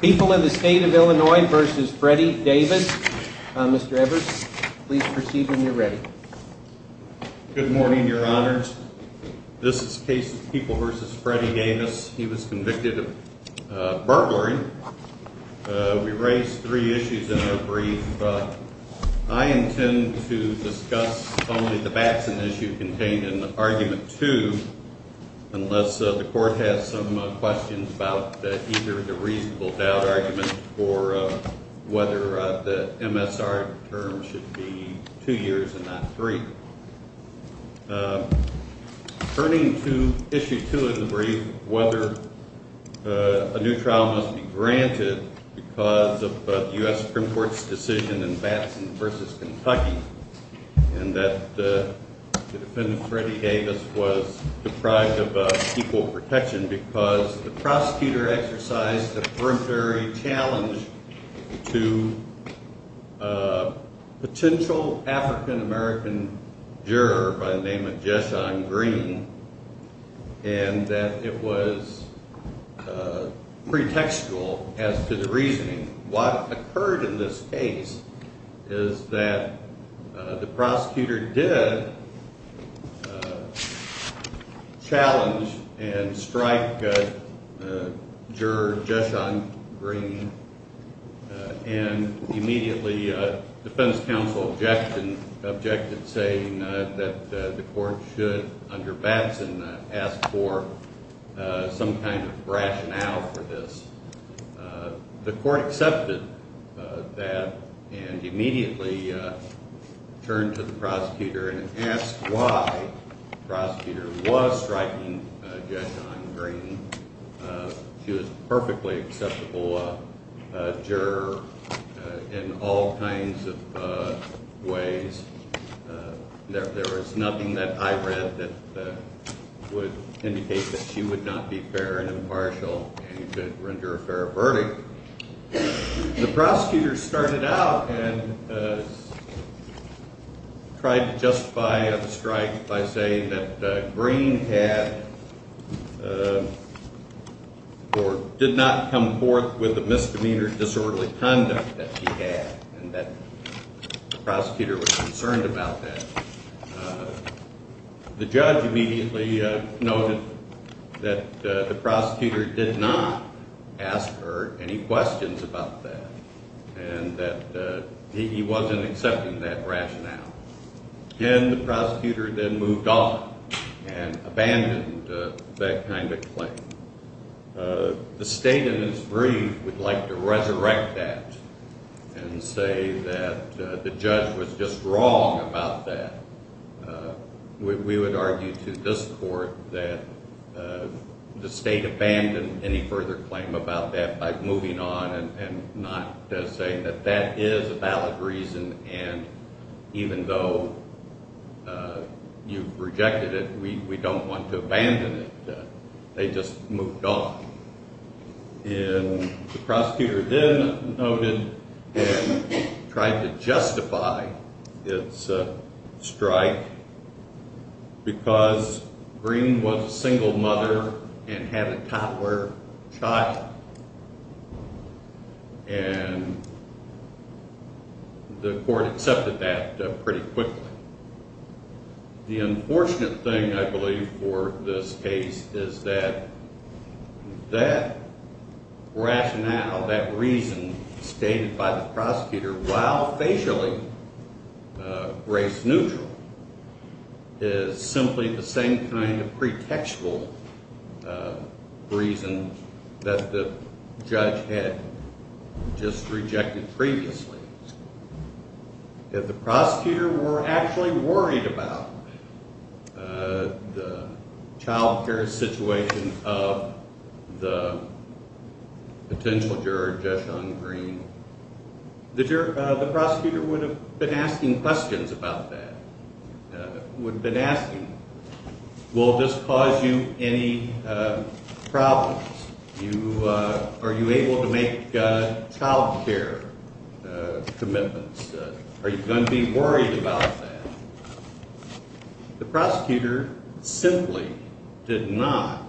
People in the State of Illinois v. Freddie Davis Mr. Evers, please proceed when you're ready. Good morning, Your Honors. This is the case of People v. Freddie Davis. He was convicted of burglary. We raised three issues in our brief, but I intend to discuss only the Batson issue contained in Argument 2 unless the Court has some questions about either the reasonable doubt argument or whether the MSR term should be two years and not three. Turning to Issue 2 of the brief, whether a new trial must be granted because of the U.S. Supreme Court's decision in Batson v. Kentucky and that the defendant, Freddie Davis, was deprived of equal protection because the prosecutor exercised a periphery challenge to a potential African-American juror by the name of Jeshon Green and that it was pretextual as to the reasoning. What occurred in this case is that the prosecutor did challenge and strike juror Jeshon Green and immediately the defense counsel objected, saying that the Court should, under Batson, ask for some kind of rationale for this. The Court accepted that and immediately turned to the prosecutor and asked why the prosecutor was striking Jeshon Green. She was a perfectly acceptable juror in all kinds of ways. There was nothing that I read that would indicate that she would not be fair and impartial and he did render a fair verdict. The prosecutor started out and tried to justify the strike by saying that Green had or did not come forth with the misdemeanor disorderly conduct that she had and that the prosecutor was concerned about that. The judge immediately noted that the prosecutor did not ask her any questions about that and that he wasn't accepting that rationale. Then the prosecutor then moved on and abandoned that kind of claim. The State, in its brief, would like to resurrect that and say that the judge was just wrong about that. We would argue to this Court that the State abandoned any further claim about that by moving on and not saying that that is a valid reason and even though you've rejected it, we don't want to abandon it. They just moved on. The prosecutor then noted and tried to justify its strike because Green was a single mother and had a toddler child and the Court accepted that pretty quickly. The unfortunate thing, I believe, for this case is that that rationale, that reason stated by the prosecutor, while facially race neutral, is simply the same kind of pretextual reason that the judge had just rejected previously. If the prosecutor were actually worried about the child care situation of the potential juror, Judge Sean Green, the prosecutor would have been asking questions about that, would have been asking, will this cause you any problems? Are you able to make child care commitments? Are you going to be worried about that? The prosecutor simply did not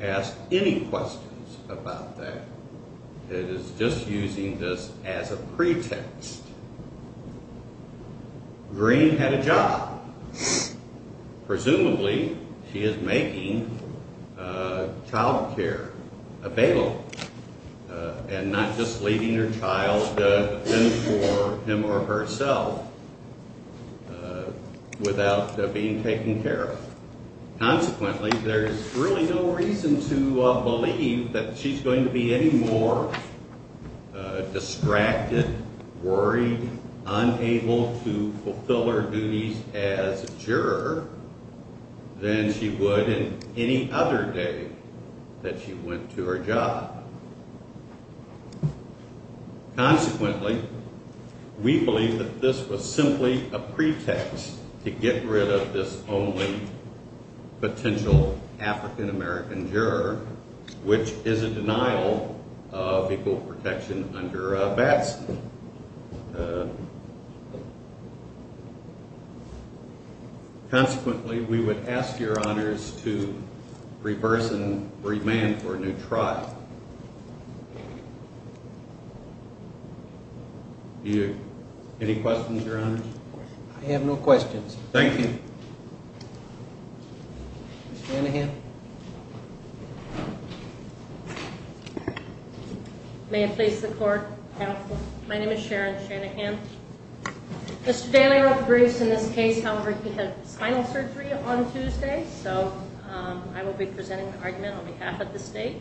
ask any questions about that. It is just using this as a pretext. Green had a job. Presumably, she is making child care available and not just leaving her child in for him or herself without being taken care of. Consequently, there's really no reason to believe that she's going to be any more distracted, worried, unable to fulfill her duties as a juror than she would in any other day that she went to her job. Consequently, we believe that this was simply a pretext to get rid of this only potential African-American juror, which is a denial of equal protection under Batson. Consequently, we would ask your honors to re-person, remand for a new trial. Any questions, your honors? I have no questions. Thank you. Mr. Anahan. May it please the court, counsel. My name is Sharon Shanahan. Mr. Daly wrote briefs in this case. However, he had spinal surgery on Tuesday, so I will be presenting the argument on behalf of the state.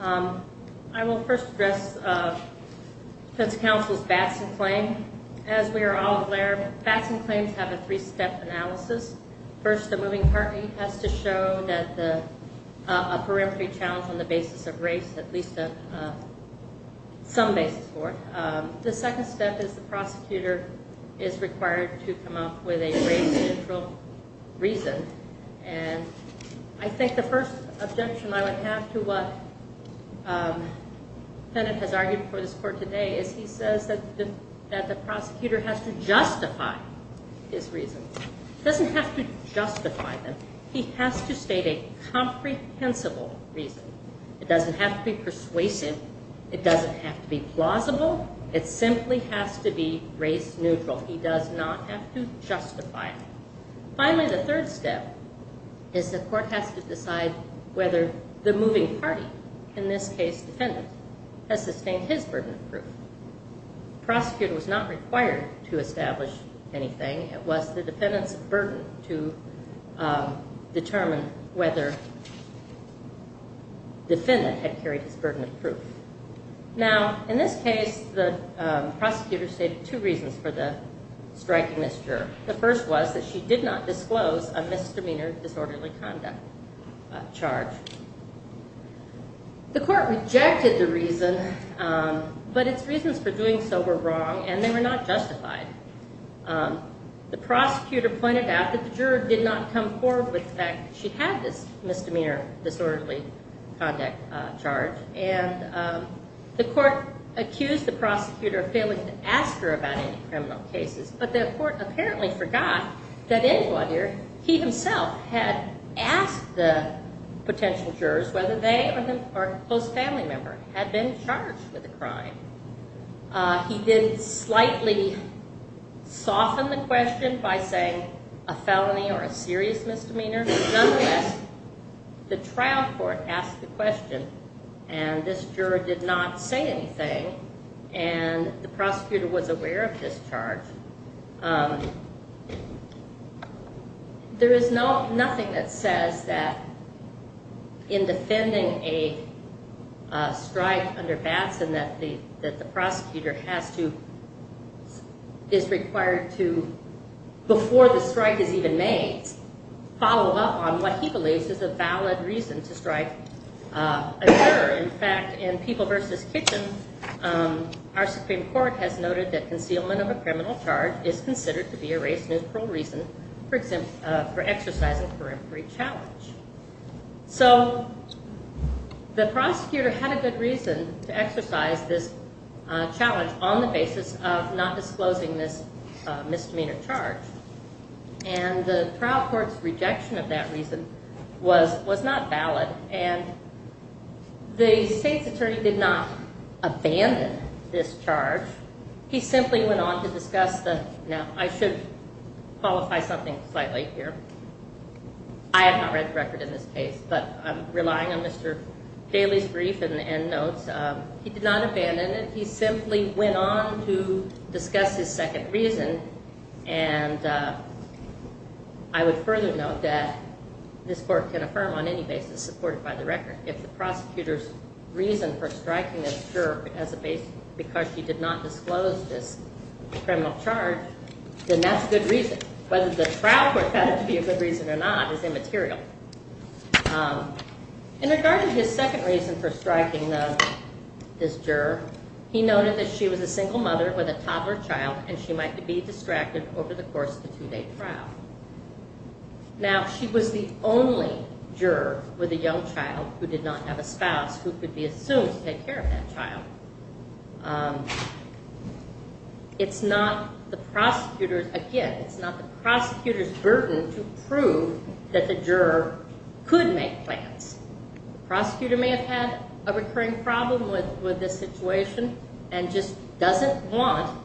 I will first address defense counsel's Batson claim. As we are all aware, Batson claims have a three-step analysis. First, the moving party has to show a perimetry challenge on the basis of race, at least some basis for it. The second step is the prosecutor is required to come up with a race-neutral reason. I think the first objection I would have to what the defendant has argued before this court today is he says that the prosecutor has to justify his reasons. He doesn't have to justify them. He has to state a comprehensible reason. It doesn't have to be persuasive. It doesn't have to be plausible. It simply has to be race-neutral. He does not have to justify it. Finally, the third step is the court has to decide whether the moving party, in this case, defendant, has sustained his burden of proof. The prosecutor was not required to establish anything. It was the defendant's burden to determine whether defendant had carried his burden of proof. Now, in this case, the prosecutor stated two reasons for striking this juror. The first was that she did not disclose a misdemeanor disorderly conduct charge. The court rejected the reason, but its reasons for doing so were wrong, and they were not justified. The prosecutor pointed out that the juror did not come forward with the fact that she had this misdemeanor disorderly conduct charge, and the court accused the prosecutor of failing to ask her about any criminal cases, but the court apparently forgot that in Laudere he himself had asked the potential jurors whether they or a close family member had been charged with a crime. He did slightly soften the question by saying a felony or a serious misdemeanor. Nonetheless, the trial court asked the question, and this juror did not say anything, and the prosecutor was aware of this charge. There is nothing that says that in defending a strike under Batson that the prosecutor is required to, before the strike is even made, follow up on what he believes is a valid reason to strike a juror. In fact, in People v. Kitchen, our Supreme Court has noted that concealment of a criminal charge is considered to be a race-neutral reason for exercising a periphery challenge. So the prosecutor had a good reason to exercise this challenge on the basis of not disclosing this misdemeanor charge, and the trial court's rejection of that reason was not valid, and the state's attorney did not abandon this charge. He simply went on to discuss the—now, I should qualify something slightly here. I have not read the record in this case, but I'm relying on Mr. Daly's brief and notes. He did not abandon it. He simply went on to discuss his second reason, and I would further note that this court can affirm on any basis supported by the record if the prosecutor's reason for striking this juror as a Batson because he did not disclose this criminal charge, then that's a good reason. Whether the trial court found it to be a good reason or not is immaterial. In regard to his second reason for striking this juror, he noted that she was a single mother with a toddler child, and she might be distracted over the course of the two-day trial. Now, she was the only juror with a young child who did not have a spouse who could be assumed to take care of that child. It's not the prosecutor's—again, it's not the prosecutor's burden to prove that the juror could make plans. The prosecutor may have had a recurring problem with this situation and just doesn't want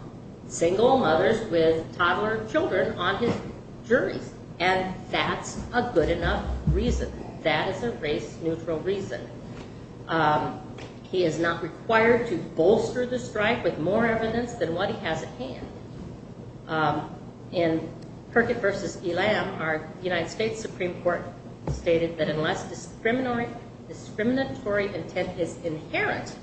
single mothers with toddler children on his jury, and that's a good enough reason. That is a race-neutral reason. He is not required to bolster the strike with more evidence than what he has at hand. In Perkett v. Elam, our United States Supreme Court stated that unless discriminatory intent is inherent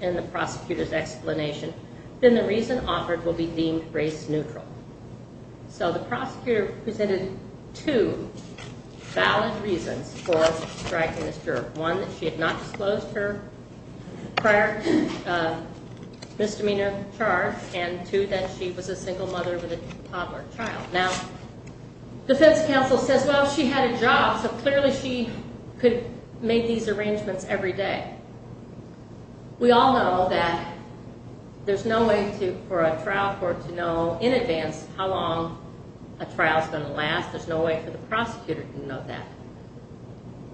in the prosecutor's explanation, then the reason offered will be deemed race-neutral. So the prosecutor presented two valid reasons for striking this juror. One, that she had not disclosed her prior misdemeanor charge, and two, that she was a single mother with a toddler child. Now, defense counsel says, well, she had a job, so clearly she could make these arrangements every day. We all know that there's no way for a trial court to know in advance how long a trial's going to last. There's no way for the prosecutor to know that.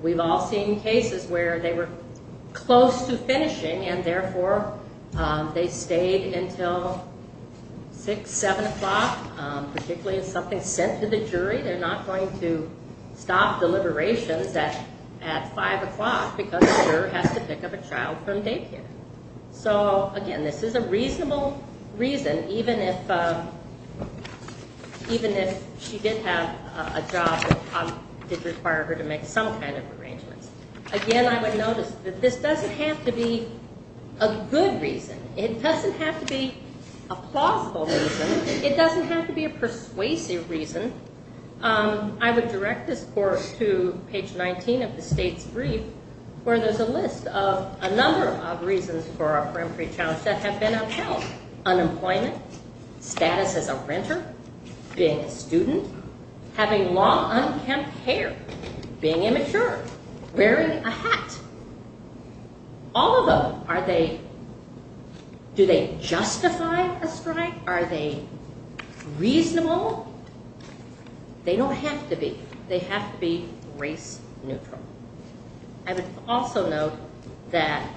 We've all seen cases where they were close to finishing, and therefore they stayed until 6, 7 o'clock. Particularly if something's sent to the jury, they're not going to stop deliberations at 5 o'clock because the juror has to pick up a child from daycare. So, again, this is a reasonable reason, even if she did have a job that did require her to make some kind of arrangements. Again, I would notice that this doesn't have to be a good reason. It doesn't have to be a plausible reason. It doesn't have to be a persuasive reason. I would direct this court to page 19 of the state's brief, where there's a list of a number of reasons for a peremptory trial that have been upheld. Unemployment, status as a renter, being a student, having long, unkempt hair, being immature, wearing a hat. All of them, do they justify a strike? Are they reasonable? They don't have to be. They have to be race neutral. I would also note that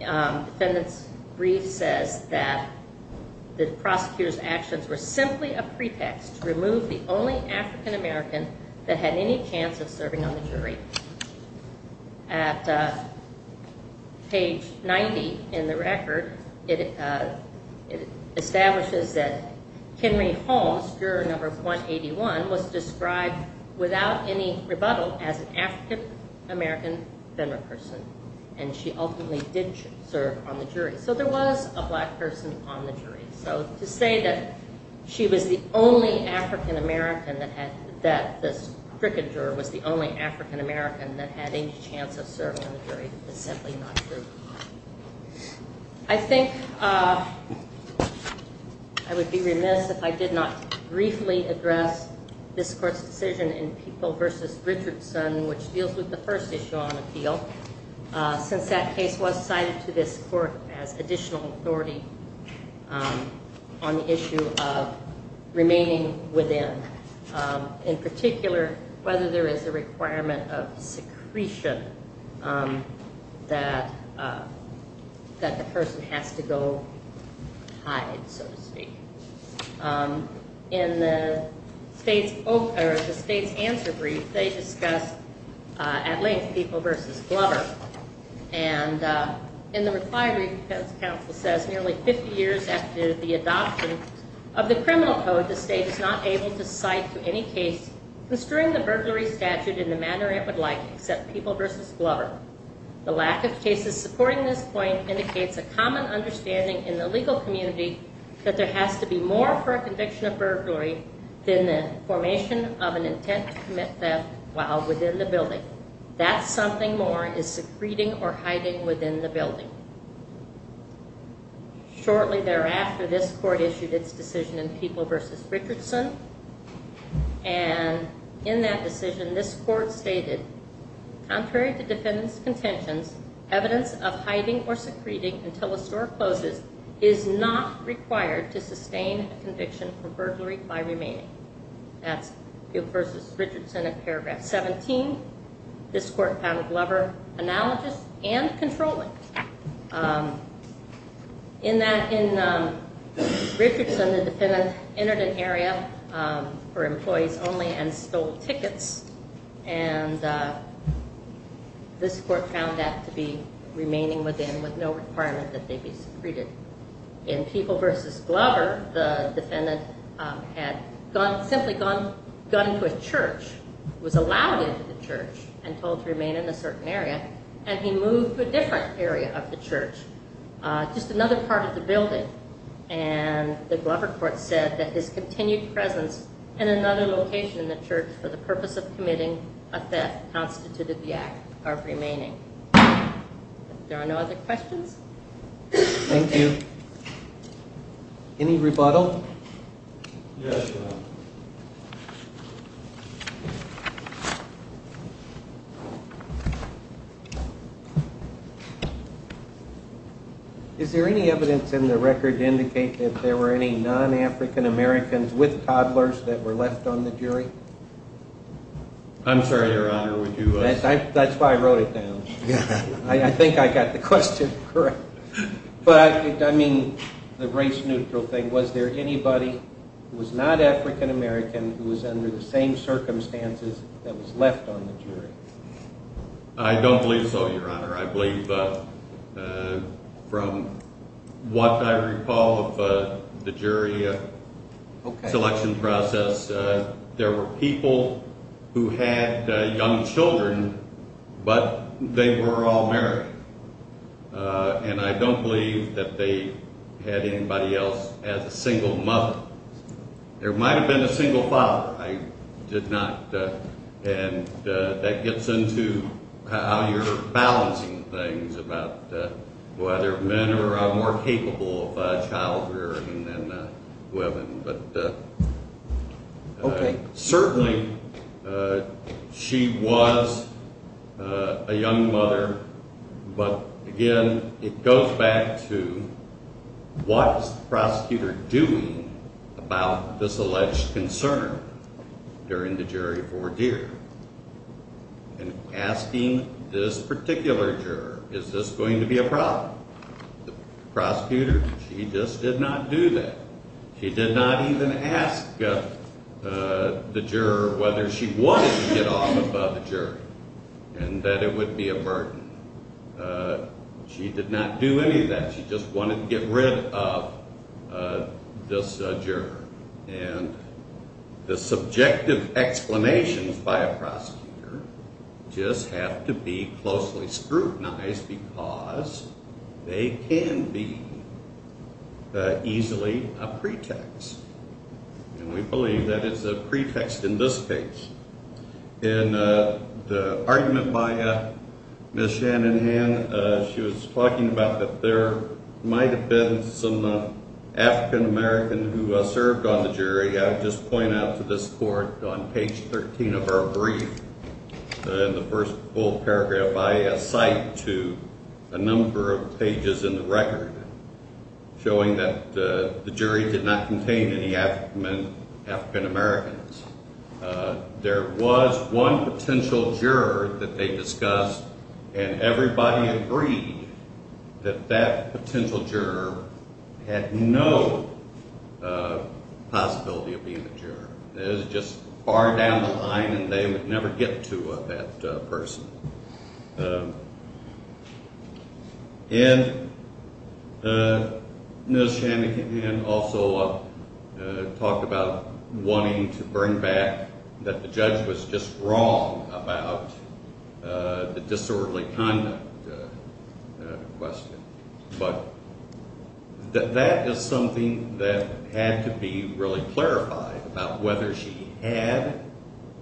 the defendant's brief says that the prosecutor's actions were simply a pretext to remove the only African American that had any chance of serving on the jury. At page 90 in the record, it establishes that Henry Holmes, juror number 181, was described without any rebuttal as an African American female person, and she ultimately did serve on the jury. So there was a black person on the jury. So to say that she was the only African American, that this prosecutor was the only African American that had any chance of serving on the jury is simply not true. I think I would be remiss if I did not briefly address this court's decision in Peoples v. Richardson, which deals with the first issue on appeal, since that case was cited to this court as additional authority on the issue of remaining within. In particular, whether there is a requirement of secretion that the person has to go hide, so to speak. In the state's answer brief, they discuss, at length, Peoples v. Glover. And in the reply brief, the defense counsel says, nearly 50 years after the adoption of the criminal code, the state is not able to cite to any case construing the burglary statute in the manner it would like, except Peoples v. Glover. The lack of cases supporting this point indicates a common understanding in the legal community that there has to be more for a conviction of burglary than the formation of an intent to commit theft while within the building. Shortly thereafter, this court issued its decision in Peoples v. Richardson, and in that decision, this court stated, contrary to defendant's contentions, evidence of hiding or secreting until a store closes is not required to sustain a conviction for burglary by remaining. That's Peoples v. Richardson in paragraph 17. This court found Glover analogous and controlling. In Richardson, the defendant entered an area for employees only and stole tickets, and this court found that to be remaining within with no requirement that they be secreted. In Peoples v. Glover, the defendant had simply gone to a church, was allowed into the church and told to remain in a certain area, and he moved to a different area of the church, just another part of the building, and the Glover court said that his continued presence in another location in the church for the purpose of committing a theft constituted the act of remaining. There are no other questions? Thank you. Any rebuttal? Yes, ma'am. Thank you. Is there any evidence in the record to indicate that there were any non-African Americans with toddlers that were left on the jury? I'm sorry, Your Honor, would you? That's why I wrote it down. I think I got the question correct. But I mean the race-neutral thing. Was there anybody who was not African American who was under the same circumstances that was left on the jury? I don't believe so, Your Honor. I believe from what I recall of the jury selection process, there were people who had young children, but they were all married, and I don't believe that they had anybody else as a single mother. There might have been a single father. I did not. And that gets into how you're balancing things about whether men are more capable of child rearing than women. Okay. Certainly she was a young mother, but, again, it goes back to what is the prosecutor doing about this alleged concern during the jury ordeer? And asking this particular juror, is this going to be a problem? The prosecutor, she just did not do that. She did not even ask the juror whether she wanted to get off of the jury and that it would be a burden. She did not do any of that. She just wanted to get rid of this juror. And the subjective explanations by a prosecutor just have to be closely scrutinized because they can be easily a pretext. And we believe that it's a pretext in this case. In the argument by Ms. Shanahan, she was talking about that there might have been some African American who served on the jury. I would just point out to this court on page 13 of our brief, in the first full paragraph, I cite to a number of pages in the record showing that the jury did not contain any African Americans. There was one potential juror that they discussed, and everybody agreed that that potential juror had no possibility of being a juror. It was just far down the line, and they would never get to that person. And Ms. Shanahan also talked about wanting to bring back that the judge was just wrong about the disorderly conduct question. But that is something that had to be really clarified about whether she had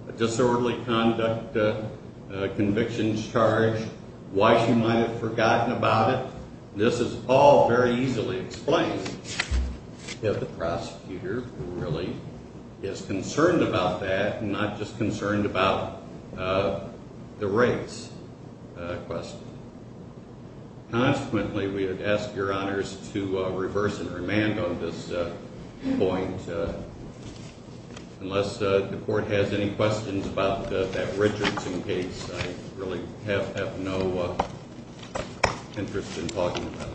a disorderly conduct conviction charge, why she might have forgotten about it. This is all very easily explained if the prosecutor really is concerned about that and not just concerned about the race question. Consequently, we would ask your honors to reverse and remand on this point. Unless the court has any questions about that Richardson case, I really have no interest in talking about it.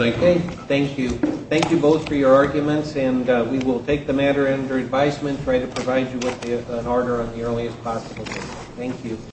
Thank you. Thank you. Thank you both for your arguments, and we will take the matter under advisement and try to provide you with an order on the earliest possible date. Thank you.